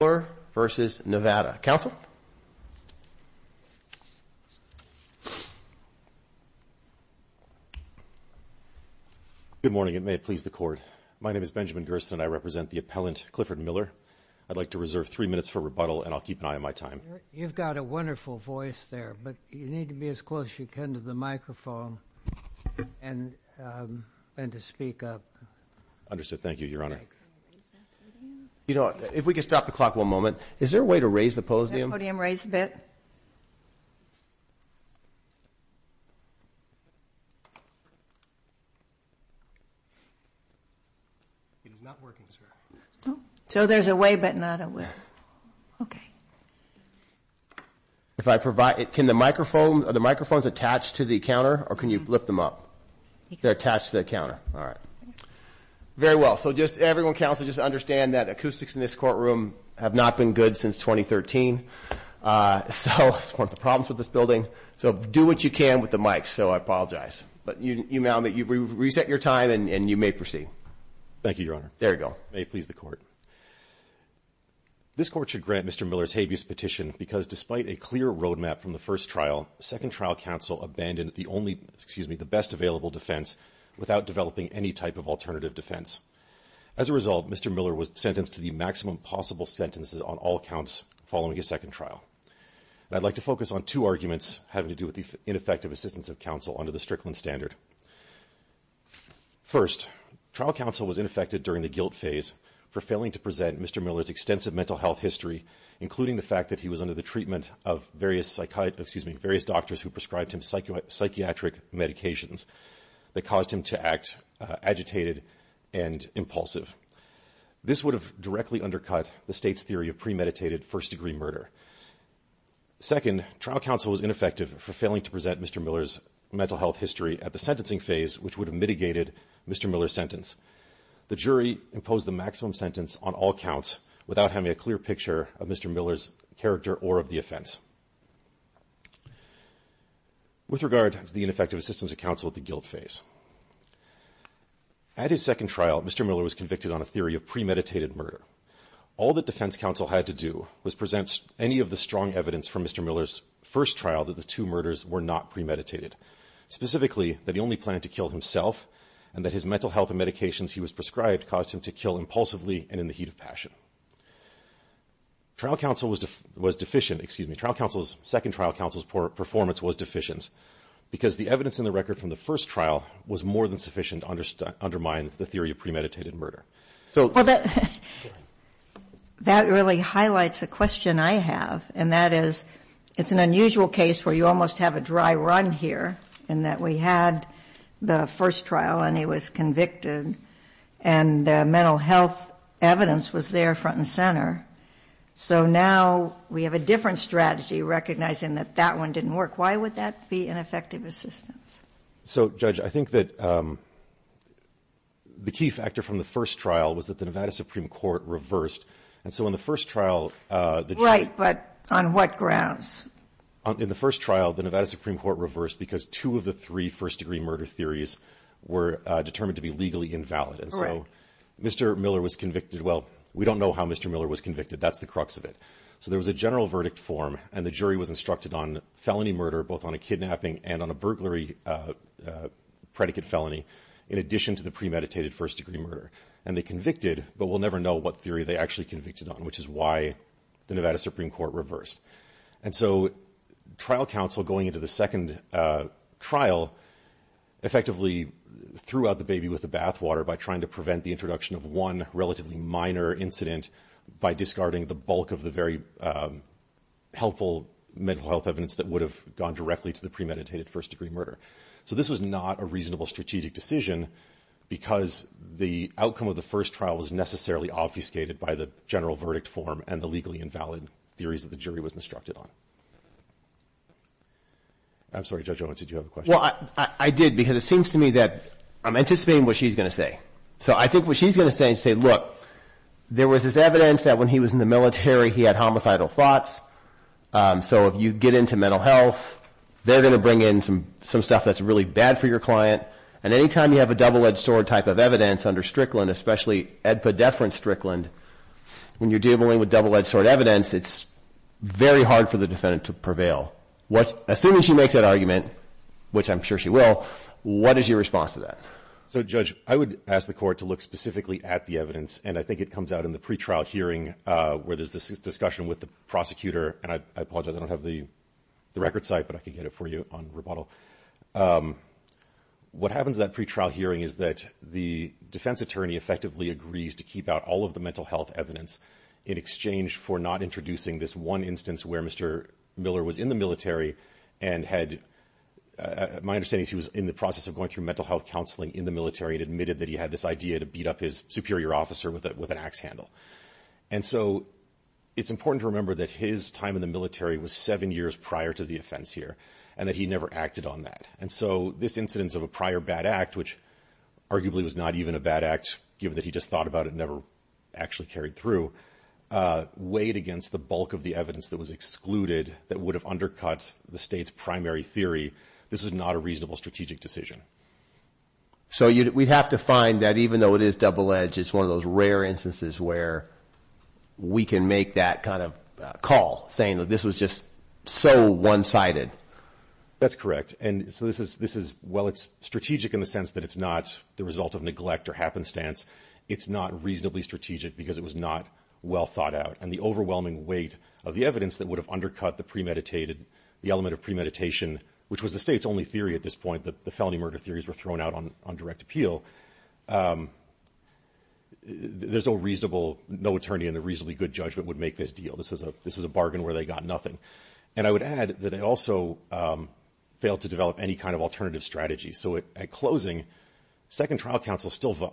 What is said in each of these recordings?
Clifford Miller v. Nevada. Council? Good morning and may it please the Court. My name is Benjamin Gerson. I represent the appellant Clifford Miller. I'd like to reserve three minutes for rebuttal and I'll keep an eye on my time. You've got a wonderful voice there, but you need to be as close as you can to the microphone and to speak up. Understood. Thank you, Your Honor. Your Honor, if we could stop the clock one moment. Is there a way to raise the podium? Is the podium raised a bit? So there's a way, but not a way. If I provide, can the microphone, are the microphones attached to the counter or can you lift them up? They're attached to the counter. All right. Very well. So just everyone counts to just understand that acoustics in this courtroom have not been good since 2013, so that's one of the problems with this building. So do what you can with the mic, so I apologize. But you may reset your time and you may proceed. Thank you, Your Honor. There you go. May it please the Court. This Court should grant Mr. Miller's habeas petition because despite a clear roadmap from the first trial, the second trial counsel abandoned the best available defense without developing any type of alternative defense. As a result, Mr. Miller was sentenced to the maximum possible sentences on all accounts following his second trial. And I'd like to focus on two arguments having to do with the ineffective assistance of counsel under the Strickland standard. First, trial counsel was ineffective during the guilt phase for failing to present Mr. Miller's extensive mental health history, including the fact that he was under the treatment of various psychiatric, excuse me, various doctors who prescribed him psychiatric medications that caused him to act agitated and impulsive. This would have directly undercut the state's theory of premeditated first-degree murder. Second, trial counsel was ineffective for failing to present Mr. Miller's mental health history at the sentencing phase, which would have mitigated Mr. Miller's sentence. The jury imposed the maximum sentence on all accounts without having a clear picture of Mr. Miller's character or of the offense. With regard to the ineffective assistance of counsel at the guilt phase, at his second trial, Mr. Miller was convicted on a theory of premeditated murder. All that defense counsel had to do was present any of the strong evidence from Mr. Miller's first trial that the two murders were not premeditated, specifically that he only planned to kill himself and that his mental health and medications he was prescribed caused him to kill impulsively and in the heat of passion. Trial counsel was deficient, excuse me, trial counsel was deficient in the theory of premeditated murder, and second trial counsel's performance was deficient because the evidence in the record from the first trial was more than sufficient to undermine the theory of premeditated murder. So... Well, that really highlights a question I have, and that is, it's an unusual case where you almost have a dry run here in that we had the first trial and he was convicted, and the mental health evidence was there front and center. So now we have a different strategy recognizing that that one didn't work. Why would that be an effective assistance? So, Judge, I think that the key factor from the first trial was that the Nevada Supreme Court reversed, and so in the first trial... Right, but on what grounds? In the first trial, the Nevada Supreme Court reversed because two of the three first degree murder theories were determined to be legally invalid. Right. And so Mr. Miller was convicted. Well, we don't know how Mr. Miller was convicted. That's the crux of it. So there was a general verdict form, and the jury was instructed on felony murder, both on a kidnapping and on a burglary predicate felony, in addition to the premeditated first degree murder. And they convicted, but we'll never know what theory they actually convicted on, which is why the Nevada Supreme Court reversed. And so trial counsel, going into the second trial, effectively threw out the baby with the bathwater by trying to prevent the introduction of one relatively minor incident by discarding the bulk of the very helpful mental health evidence that would have gone directly to the premeditated first degree murder. So this was not a reasonable strategic decision because the outcome of the first trial was necessarily obfuscated by the general verdict form and the legally invalid theories that the jury was instructed on. I'm sorry, Judge Owens, did you have a question? Well, I did, because it seems to me that I'm anticipating what she's going to say. So I think what she's going to say is, look, there was this evidence that when he was in the military, he had homicidal thoughts. So if you get into mental health, they're going to bring in some stuff that's really bad for your client. And any time you have a double-edged sword type of evidence under Strickland, especially edpedeferent Strickland, when you're dealing with double-edged sword evidence, it's very hard for the defendant to prevail. Assuming she makes that argument, which I'm sure she will, what is your response to that? So, Judge, I would ask the Court to look specifically at the evidence. And I think it comes out in the pretrial hearing where there's this discussion with the prosecutor. And I apologize, I don't have the record site, but I could get it for you on rebuttal. What happens at that pretrial hearing is that the defense attorney effectively agrees to keep out all of the mental health evidence in exchange for not introducing this one instance where Mr. Miller was in the military and had, my understanding is he was in the process of going through mental health counseling in the military and admitted that he had this idea to beat up his superior officer with an axe handle. And so it's important to remember that his time in the military was seven years prior to the offense here and that he never acted on that. And so this incidence of a prior bad act, which arguably was not even a bad act, given that he just thought about it and never actually carried through, weighed against the bulk of the evidence that was excluded that would have undercut the state's primary theory, this was not a reasonable strategic decision. So we'd have to find that even though it is double-edged, it's one of those rare instances where we can make that kind of call, saying that this was just so one-sided. That's correct. And so this is, while it's strategic in the sense that it's not the result of neglect or happenstance, it's not reasonably strategic because it was not well thought out. And the overwhelming weight of the evidence that would have undercut the premeditated, the element of premeditation, which was the state's only theory at this point, that the felony murder theories were thrown out on direct appeal, there's no reasonable, no attorney in a reasonably good judgment would make this deal. This was a bargain where they got nothing. And I would add that it also failed to develop any kind of alternative strategy. So at closing, second trial counsel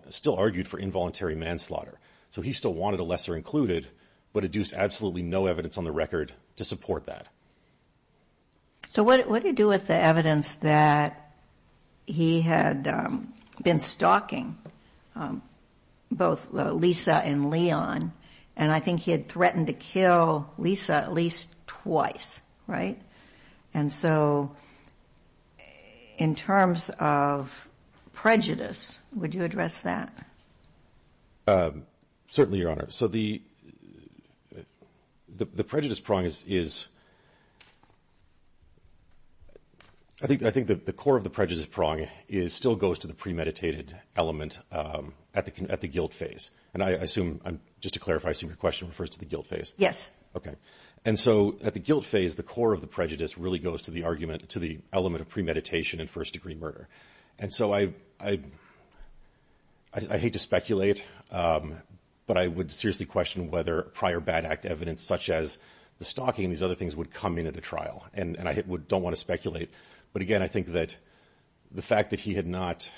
still argued for involuntary manslaughter. So he still wanted a lesser included, but adduced absolutely no evidence on the record to support that. So what do you do with the evidence that he had been stalking both Lisa and Leon, and I think he had threatened to kill Lisa at least twice, right? And so in terms of prejudice, would you address that? Certainly, Your Honor. So the prejudice prong is, I think the core of the prejudice prong is, still goes to the premeditated element at the guilt phase. And I assume, just to clarify, I assume your question refers to the guilt phase. Yes. Okay. And so at the guilt phase, the core of the prejudice really goes to the argument, to the element of premeditation and first-degree murder. And so I hate to speculate, but I would seriously question whether prior bad act evidence such as the stalking and these other things would come in at a trial. And I don't want to speculate. But, again, I think that the fact that he had not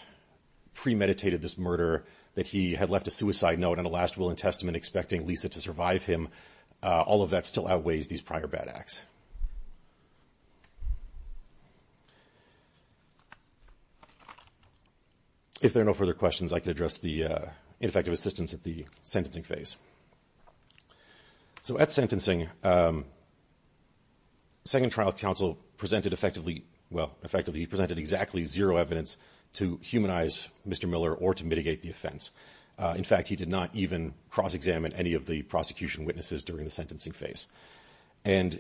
premeditated this murder, that he had left a suicide note and a last will and testament expecting Lisa to survive him all of that still outweighs these prior bad acts. If there are no further questions, I can address the ineffective assistance at the sentencing phase. So at sentencing, second trial counsel presented effectively, well, effectively, he presented exactly zero evidence to humanize Mr. Miller or to mitigate the offense. In fact, he did not even cross-examine any of the prosecution witnesses during the sentencing phase. And,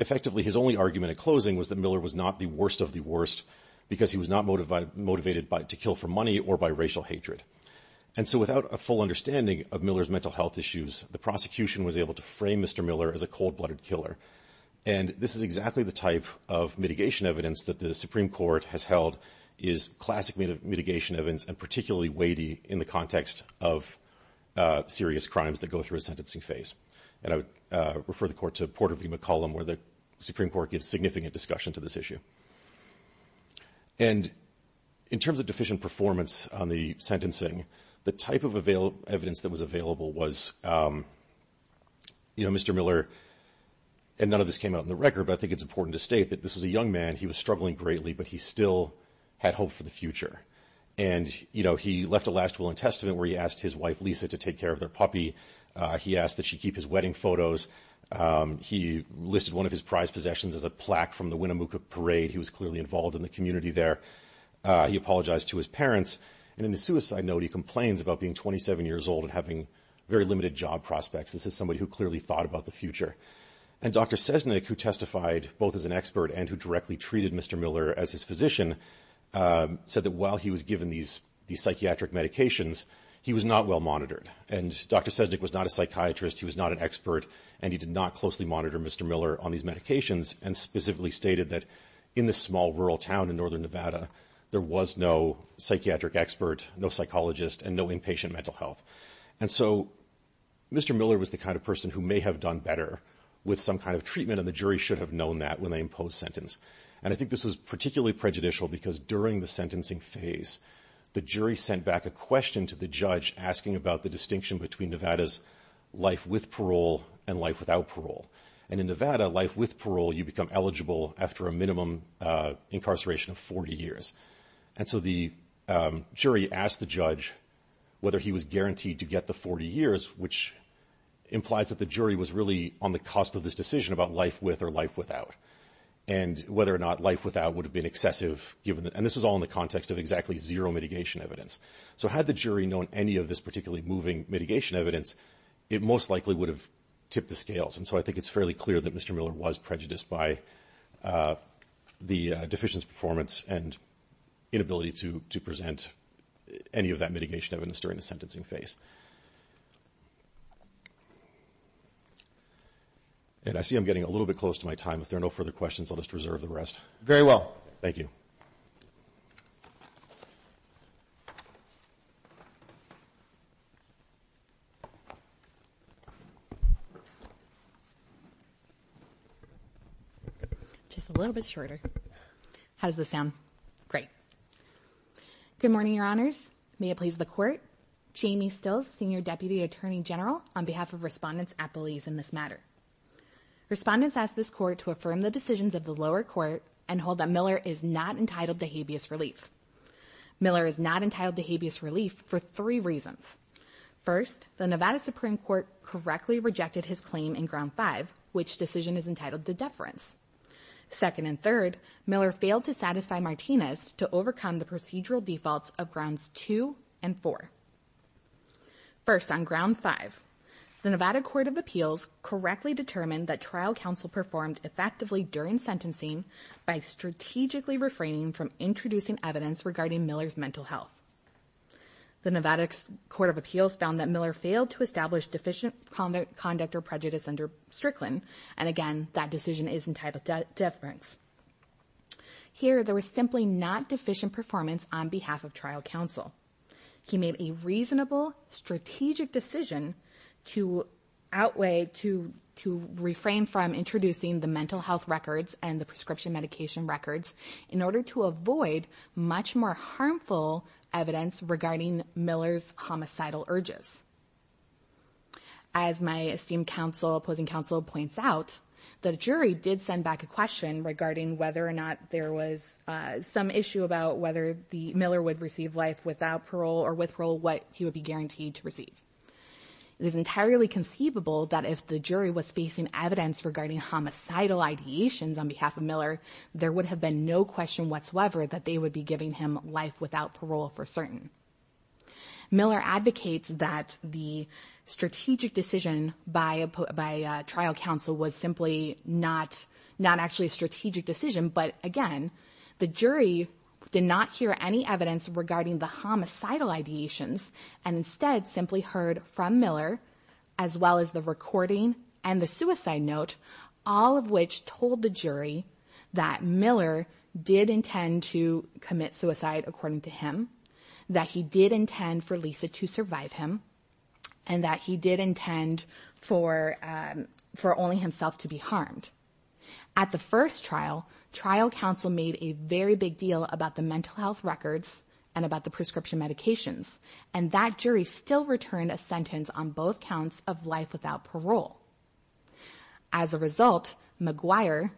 effectively, his only argument at closing was that Miller was not the worst of the worst because he was not motivated to kill for money or by racial hatred. And so without a full understanding of Miller's mental health issues, the prosecution was able to frame Mr. Miller as a cold-blooded killer. And this is exactly the type of mitigation evidence that the Supreme Court has held is classic mitigation evidence and particularly weighty in the context of serious crimes that go through a sentencing phase. And I would refer the Court to Porter v. McCollum, where the Supreme Court gives significant discussion to this issue. And in terms of deficient performance on the sentencing, the type of evidence that was available was, you know, Mr. Miller, and none of this came out in the record, but I think it's important to state that this was a young man. He was struggling greatly, but he still had hope for the future. And, you know, he left a last will and testament where he asked his wife, Lisa, to take care of their puppy. He asked that she keep his wedding photos. He listed one of his prized possessions as a plaque from the Winnemucca parade. He was clearly involved in the community there. He apologized to his parents. And in the suicide note, he complains about being 27 years old and having very limited job prospects. This is somebody who clearly thought about the future. And Dr. Sesnick, who testified both as an expert and who directly treated Mr. Miller as his physician, said that while he was given these psychiatric medications, he was not well monitored. And Dr. Sesnick was not a psychiatrist, he was not an expert, and he did not closely monitor Mr. Miller on these medications and specifically stated that in this small rural town in northern Nevada, there was no psychiatric expert, no psychologist, and no inpatient mental health. And so Mr. Miller was the kind of person who may have done better with some kind of treatment, and the jury should have known that when they imposed sentence. And I think this was particularly prejudicial because during the sentencing phase, the jury sent back a question to the judge asking about the distinction between Nevada's life with parole and life without parole. And in Nevada, life with parole, you become eligible after a minimum incarceration of 40 years. And so the jury asked the judge whether he was guaranteed to get the 40 years, which implies that the jury was really on the cusp of this decision about life with or life without, and whether or not life without would have been excessive, and this was all in the context of exactly zero mitigation evidence. So had the jury known any of this particularly moving mitigation evidence, it most likely would have tipped the scales. And so I think it's fairly clear that Mr. Miller was prejudiced by the deficient performance and inability to present any of that mitigation evidence during the sentencing phase. And I see I'm getting a little bit close to my time. If there are no further questions, I'll just reserve the rest. Very well. Thank you. Just a little bit shorter. How does this sound? Great. Good morning, Your Honors. May it please the Court. Jamie Stills, Senior Deputy Attorney General, on behalf of Respondents at Belize in this matter. Respondents asked this Court to affirm the decisions of the lower Court and hold that Miller is not entitled to habeas relief. Miller is not entitled to habeas relief for three reasons. First, the Nevada Supreme Court correctly rejected his claim in Ground 5, which decision is entitled to deference. Second and third, Miller failed to satisfy Martinez to overcome the procedural defaults of Grounds 2 and 4. First, on Ground 5, the Nevada Court of Appeals correctly determined that trial counsel performed effectively during sentencing by strategically refraining from introducing evidence regarding Miller's mental health. The Nevada Court of Appeals found that Miller failed to establish deficient conduct or prejudice under Strickland, and again, that decision is entitled to deference. Here, there was simply not deficient performance on behalf of trial counsel. He made a reasonable, strategic decision to outweigh, to refrain from introducing the mental health records and the prescription medication records in order to avoid much more harmful evidence regarding Miller's homicidal urges. As my esteemed opposing counsel points out, the jury did send back a question regarding whether or not there was some issue about whether Miller would receive life without parole or with parole what he would be guaranteed to receive. It is entirely conceivable that if the jury was facing evidence regarding homicidal ideations on behalf of Miller, there would have been no question whatsoever that they would be giving him life without parole for certain. Miller advocates that the strategic decision by trial counsel was simply not actually a strategic decision, but again, the jury did not hear any evidence regarding the homicidal ideations and instead simply heard from Miller, as well as the recording and the suicide note, all of which told the jury that Miller did intend to commit suicide according to him, that he did intend for Lisa to survive him, and that he did intend for only himself to be harmed. At the first trial, trial counsel made a very big deal about the mental health records and about the prescription medications, and that jury still returned a sentence on both counts of life without parole. As a result, McGuire,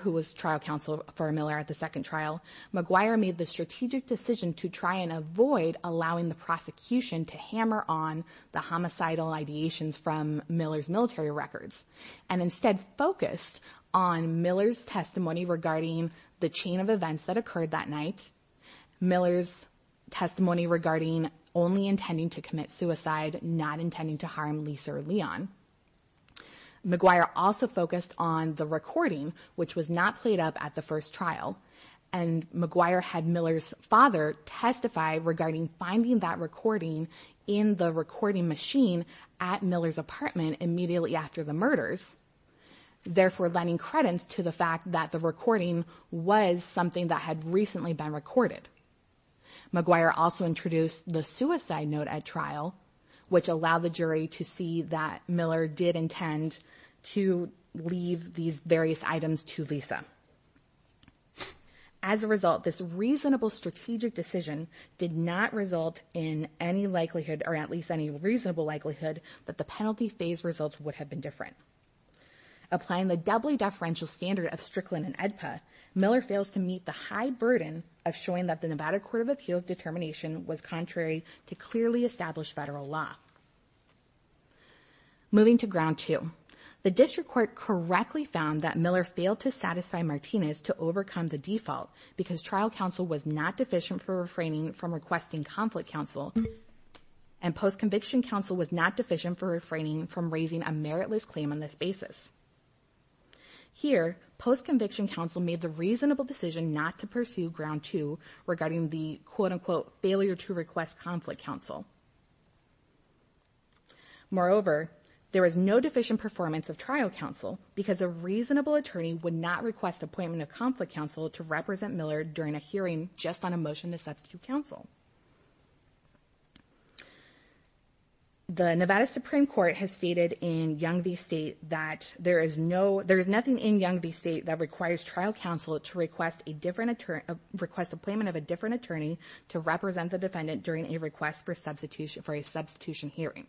who was trial counsel for Miller at the second trial, McGuire made the strategic decision to try and avoid allowing the prosecution to hammer on the homicidal ideations from Miller's military records and instead focused on Miller's testimony regarding the chain of events that occurred that night, Miller's testimony regarding only intending to commit suicide, not intending to harm Lisa or Leon. McGuire also focused on the recording, which was not played up at the first trial, and McGuire had Miller's father testify regarding finding that recording in the recording machine at Miller's apartment immediately after the murders, therefore lending credence to the fact that the recording was something that had recently been recorded. McGuire also introduced the suicide note at trial, which allowed the jury to see that Miller did intend to leave these various items to Lisa. As a result, this reasonable strategic decision did not result in any likelihood, or at least any reasonable likelihood, that the penalty phase results would have been different. Applying the doubly deferential standard of Strickland and AEDPA, Miller fails to meet the high burden of showing that the Nevada Court of Appeals determination was contrary to clearly established federal law. Moving to ground two. The district court correctly found that Miller failed to satisfy Martinez to overcome the default because trial counsel was not deficient for refraining from requesting conflict counsel, and post-conviction counsel was not deficient for refraining from raising a meritless claim on this basis. Here, post-conviction counsel made the reasonable decision not to pursue ground two regarding the quote-unquote failure to request conflict counsel. Moreover, there is no deficient performance of trial counsel because a reasonable attorney would not request appointment of conflict counsel to represent Miller during a hearing just on a motion to substitute counsel. The Nevada Supreme Court has stated in Young v. State that there is nothing in Young v. State that requires trial counsel to request appointment of a different attorney to represent the defendant during a request for a substitution hearing.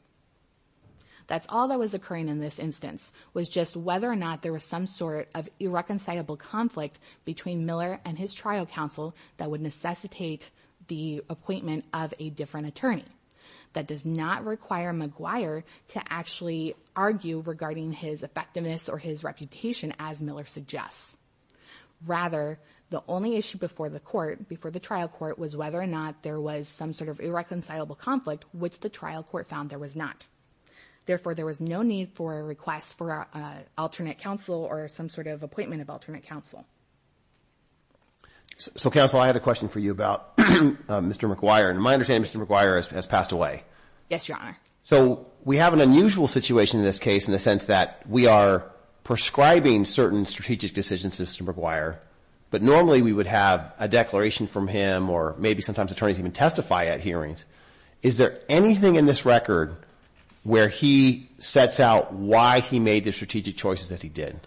That's all that was occurring in this instance, was just whether or not there was some sort of irreconcilable conflict between Miller and his trial counsel that would necessitate the appointment of a different attorney. That does not require McGuire to actually argue regarding his effectiveness or his reputation, as Miller suggests. Rather, the only issue before the court, before the trial court, was whether or not there was some sort of irreconcilable conflict, which the trial court found there was not. Therefore, there was no need for a request for alternate counsel or some sort of appointment of alternate counsel. So, counsel, I had a question for you about Mr. McGuire. In my understanding, Mr. McGuire has passed away. Yes, Your Honor. So we have an unusual situation in this case in the sense that we are prescribing certain strategic decisions to Mr. McGuire, but normally we would have a declaration from him or maybe sometimes attorneys even testify at hearings. Is there anything in this record where he sets out why he made the strategic choices that he did?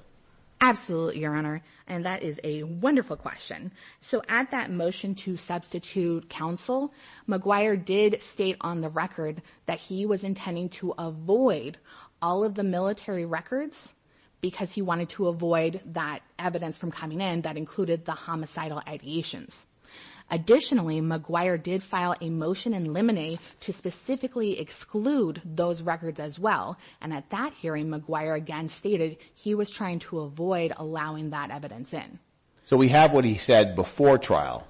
Absolutely, Your Honor, and that is a wonderful question. So at that motion to substitute counsel, McGuire did state on the record that he was intending to avoid all of the military records because he wanted to avoid that evidence from coming in that included the homicidal ideations. Additionally, McGuire did file a motion in limine to specifically exclude those records as well, and at that hearing, McGuire again stated he was trying to avoid allowing that evidence in. So we have what he said before trial.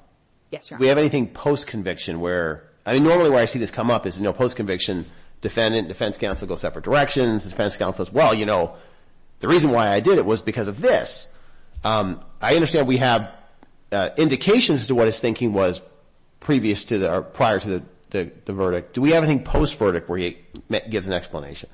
Yes, Your Honor. Do we have anything post-conviction where, I mean normally where I see this come up is post-conviction, defendant and defense counsel go separate directions. The defense counsel says, well, you know, the reason why I did it was because of this. I understand we have indications as to what his thinking was prior to the verdict. Do we have anything post-verdict where he gives an explanation?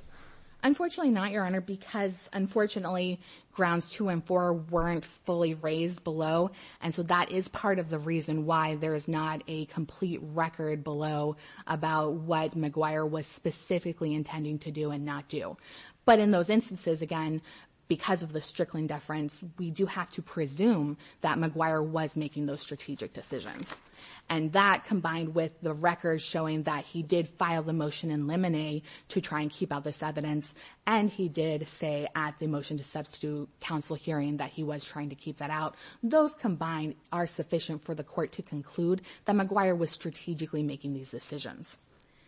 Unfortunately not, Your Honor, because unfortunately grounds two and four weren't fully raised below. And so that is part of the reason why there is not a complete record below about what McGuire was specifically intending to do and not do. But in those instances, again, because of the Strickland deference, we do have to presume that McGuire was making those strategic decisions. And that combined with the records showing that he did file the motion in limine to try and keep out this evidence, and he did say at the motion to substitute counsel hearing that he was trying to keep that out, those combined are sufficient for the court to conclude that McGuire was strategically making these decisions.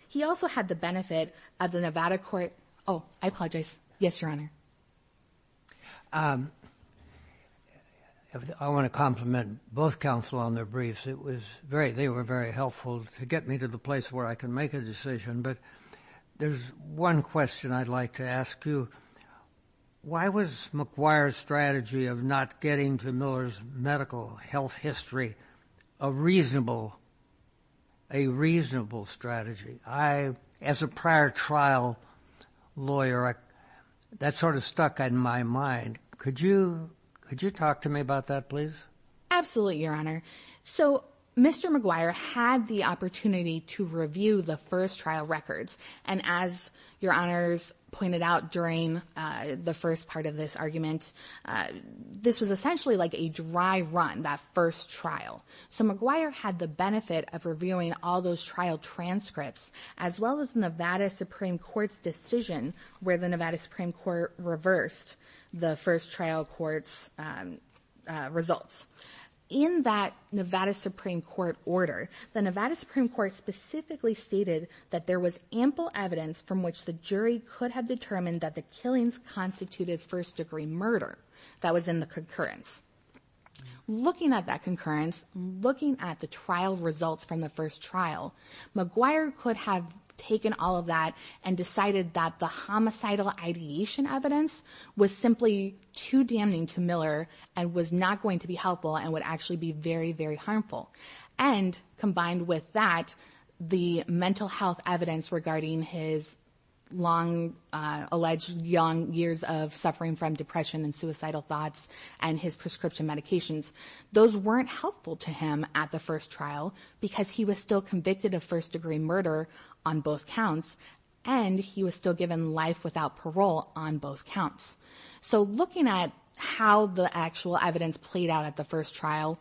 He also had the benefit of the Nevada court. Oh, I apologize. Yes, Your Honor. I want to compliment both counsel on their briefs. They were very helpful to get me to the place where I can make a decision. But there's one question I'd like to ask you. Why was McGuire's strategy of not getting to Miller's medical health history a reasonable strategy? As a prior trial lawyer, that sort of stuck in my mind. Could you talk to me about that, please? Absolutely, Your Honor. So Mr. McGuire had the opportunity to review the first trial records. And as Your Honors pointed out during the first part of this argument, this was essentially like a dry run, that first trial. So McGuire had the benefit of reviewing all those trial transcripts, as well as Nevada Supreme Court's decision, where the Nevada Supreme Court reversed the first trial court's results. In that Nevada Supreme Court order, the Nevada Supreme Court specifically stated that there was ample evidence from which the jury could have determined that the killings constituted first-degree murder. That was in the concurrence. Looking at that concurrence, looking at the trial results from the first trial, McGuire could have taken all of that and decided that the homicidal ideation evidence was simply too damning to Miller and was not going to be helpful and would actually be very, very harmful. And combined with that, the mental health evidence regarding his long alleged young years of suffering from depression and suicidal thoughts and his prescription medications, those weren't helpful to him at the first trial because he was still convicted of first-degree murder on both counts and he was still given life without parole on both counts. So looking at how the actual evidence played out at the first trial,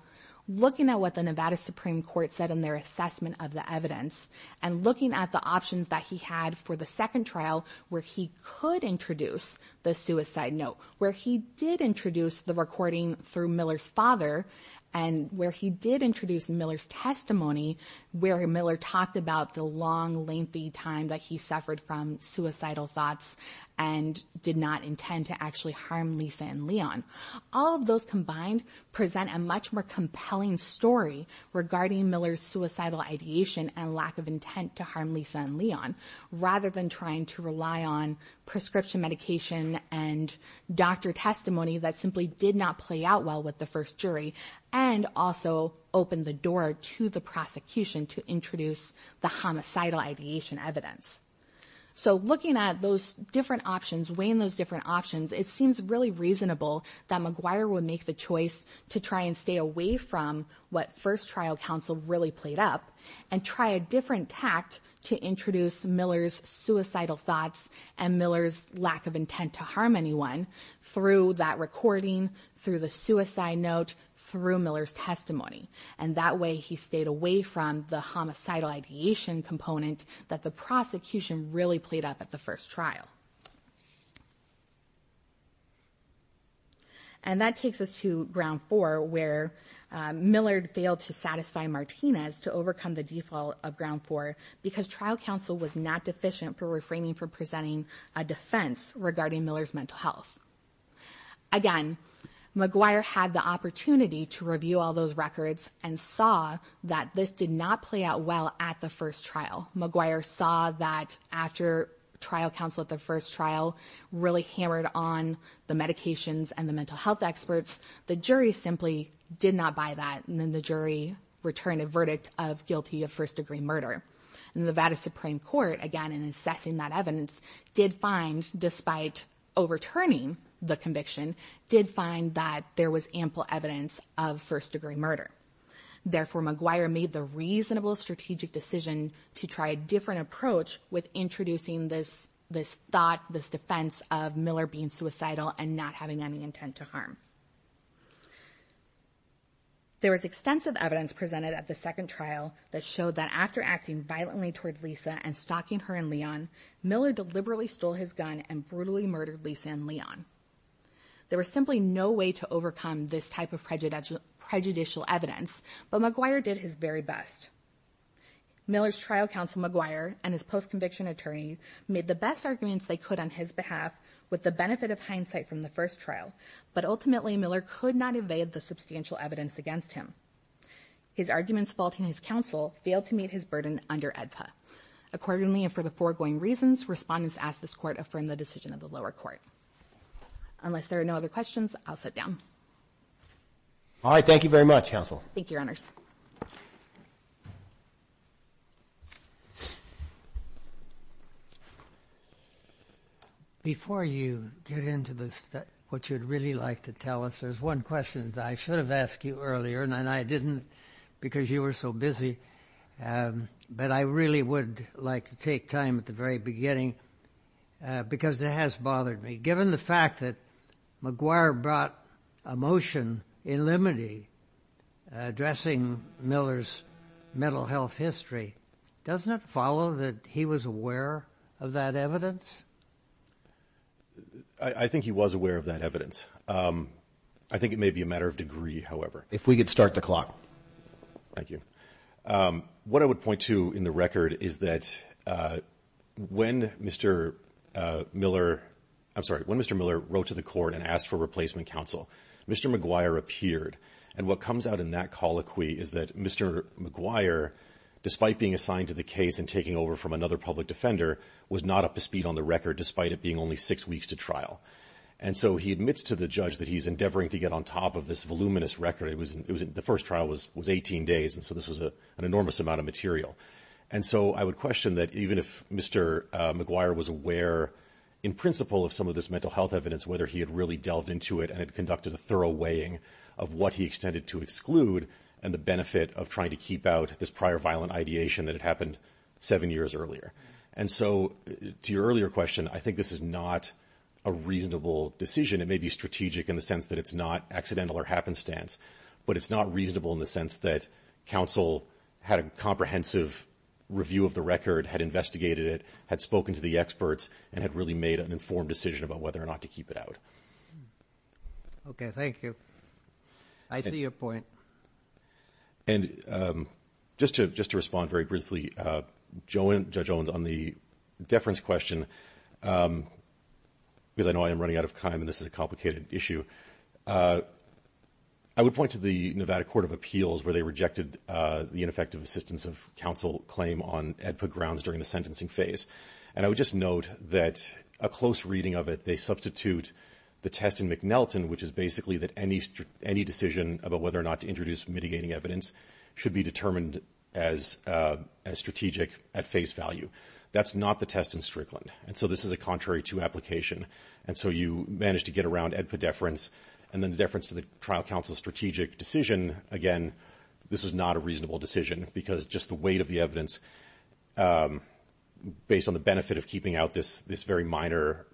looking at what the Nevada Supreme Court said in their assessment of the evidence, and looking at the options that he had for the second trial where he could introduce the suicide note, where he did introduce the recording through Miller's father and where he did introduce Miller's testimony where Miller talked about the long, lengthy time that he suffered from suicidal thoughts and did not intend to actually harm Lisa and Leon. All of those combined present a much more compelling story regarding Miller's suicidal ideation and lack of intent to harm Lisa and Leon rather than trying to rely on prescription medication and doctor testimony that simply did not play out well with the first jury and also opened the door to the prosecution to introduce the homicidal ideation evidence. So looking at those different options, weighing those different options, it seems really reasonable that McGuire would make the choice to try and stay away from what first trial counsel really played up and try a different tact to introduce Miller's suicidal thoughts and Miller's lack of intent to harm anyone through that recording, through the suicide note, through Miller's testimony. And that way he stayed away from the homicidal ideation component that the prosecution really played up at the first trial. And that takes us to ground four where Miller failed to satisfy Martinez to overcome the default of ground four because trial counsel was not deficient for reframing for presenting a defense regarding Miller's mental health. Again, McGuire had the opportunity to review all those records and saw that this did not play out well at the first trial. McGuire saw that after trial counsel at the first trial really hammered on the medications and the mental health experts, the jury simply did not buy that and then the jury returned a verdict of guilty of first-degree murder. And the Nevada Supreme Court, again, in assessing that evidence, did find, despite overturning the conviction, did find that there was ample evidence of first-degree murder. Therefore, McGuire made the reasonable strategic decision to try a different approach with introducing this thought, this defense of Miller being suicidal and not having any intent to harm. There was extensive evidence presented at the second trial that showed that after acting violently toward Lisa and stalking her and Leon, Miller deliberately stole his gun and brutally murdered Lisa and Leon. There was simply no way to overcome this type of prejudicial evidence, but McGuire did his very best. Miller's trial counsel, McGuire, and his post-conviction attorney made the best arguments they could on his behalf with the benefit of hindsight from the first trial, but ultimately Miller could not evade the substantial evidence against him. His arguments faulting his counsel failed to meet his burden under AEDPA. Accordingly, and for the foregoing reasons, Respondents ask this Court affirm the decision of the lower court. Unless there are no other questions, I'll sit down. All right. Thank you very much, counsel. Thank you, Your Honors. Before you get into what you'd really like to tell us, there's one question that I should have asked you earlier, and I didn't because you were so busy, but I really would like to take time at the very beginning because it has bothered me. Given the fact that McGuire brought a motion in limine addressing Miller's mental health history, doesn't it follow that he was aware of that evidence? I think he was aware of that evidence. I think it may be a matter of degree, however. If we could start the clock. Thank you. What I would point to in the record is that when Mr. Miller wrote to the court and asked for replacement counsel, Mr. McGuire appeared, and what comes out in that colloquy is that Mr. McGuire, despite being assigned to the case and taking over from another public defender, was not up to speed on the record, despite it being only six weeks to trial. And so he admits to the judge that he's endeavoring to get on top of this voluminous record. The first trial was 18 days, and so this was an enormous amount of material. And so I would question that even if Mr. McGuire was aware, in principle, of some of this mental health evidence, whether he had really delved into it and had conducted a thorough weighing of what he extended to exclude and the benefit of trying to keep out this prior violent ideation that had happened seven years earlier. And so to your earlier question, I think this is not a reasonable decision. It may be strategic in the sense that it's not accidental or happenstance, but it's not reasonable in the sense that counsel had a comprehensive review of the record, had investigated it, had spoken to the experts, and had really made an informed decision about whether or not to keep it out. Okay. Thank you. I see your point. And just to respond very briefly, Judge Owens, on the deference question, because I know I am running out of time and this is a complicated issue, I would point to the Nevada Court of Appeals where they rejected the ineffective assistance of counsel claim on EDPA grounds during the sentencing phase. And I would just note that a close reading of it, they substitute the test in McNelton, which is basically that any decision about whether or not to introduce mitigating evidence should be determined as strategic at face value. That's not the test in Strickland, and so this is a contrary to application. And so you managed to get around EDPA deference, and then the deference to the trial counsel's strategic decision, again, this was not a reasonable decision because just the weight of the evidence, based on the benefit of keeping out this very minor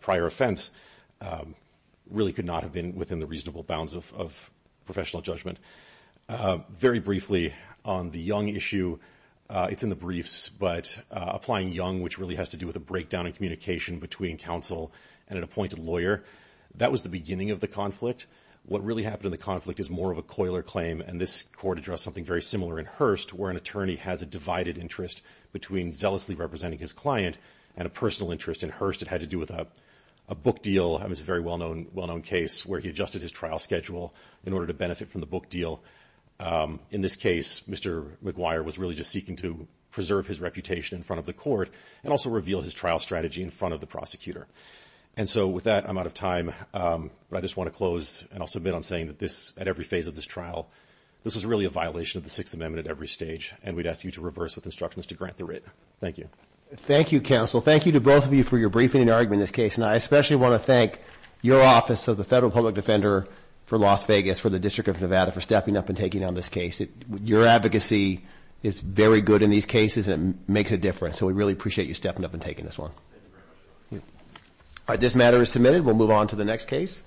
prior offense, really could not have been within the reasonable bounds of professional judgment. Very briefly, on the Young issue, it's in the briefs, but applying Young, which really has to do with a breakdown in communication between counsel and an appointed lawyer, that was the beginning of the conflict. What really happened in the conflict is more of a coiler claim, and this court addressed something very similar in Hurst, where an attorney has a divided interest between zealously representing his client and a personal interest in Hurst. It had to do with a book deal. It was a very well-known case where he adjusted his trial schedule in order to benefit from the book deal. In this case, Mr. McGuire was really just seeking to preserve his reputation in front of the court and also reveal his trial strategy in front of the prosecutor. And so with that, I'm out of time, but I just want to close, and I'll submit on saying that this, at every phase of this trial, this is really a violation of the Sixth Amendment at every stage, and we'd ask you to reverse with instructions to grant the writ. Thank you. Thank you, counsel. Thank you to both of you for your briefing and argument in this case, and I especially want to thank your office of the Federal Public Defender for Las Vegas, for the District of Nevada, for stepping up and taking on this case. Your advocacy is very good in these cases, and it makes a difference, so we really appreciate you stepping up and taking this one. Thank you very much. All right, this matter is submitted. We'll move on to the next case.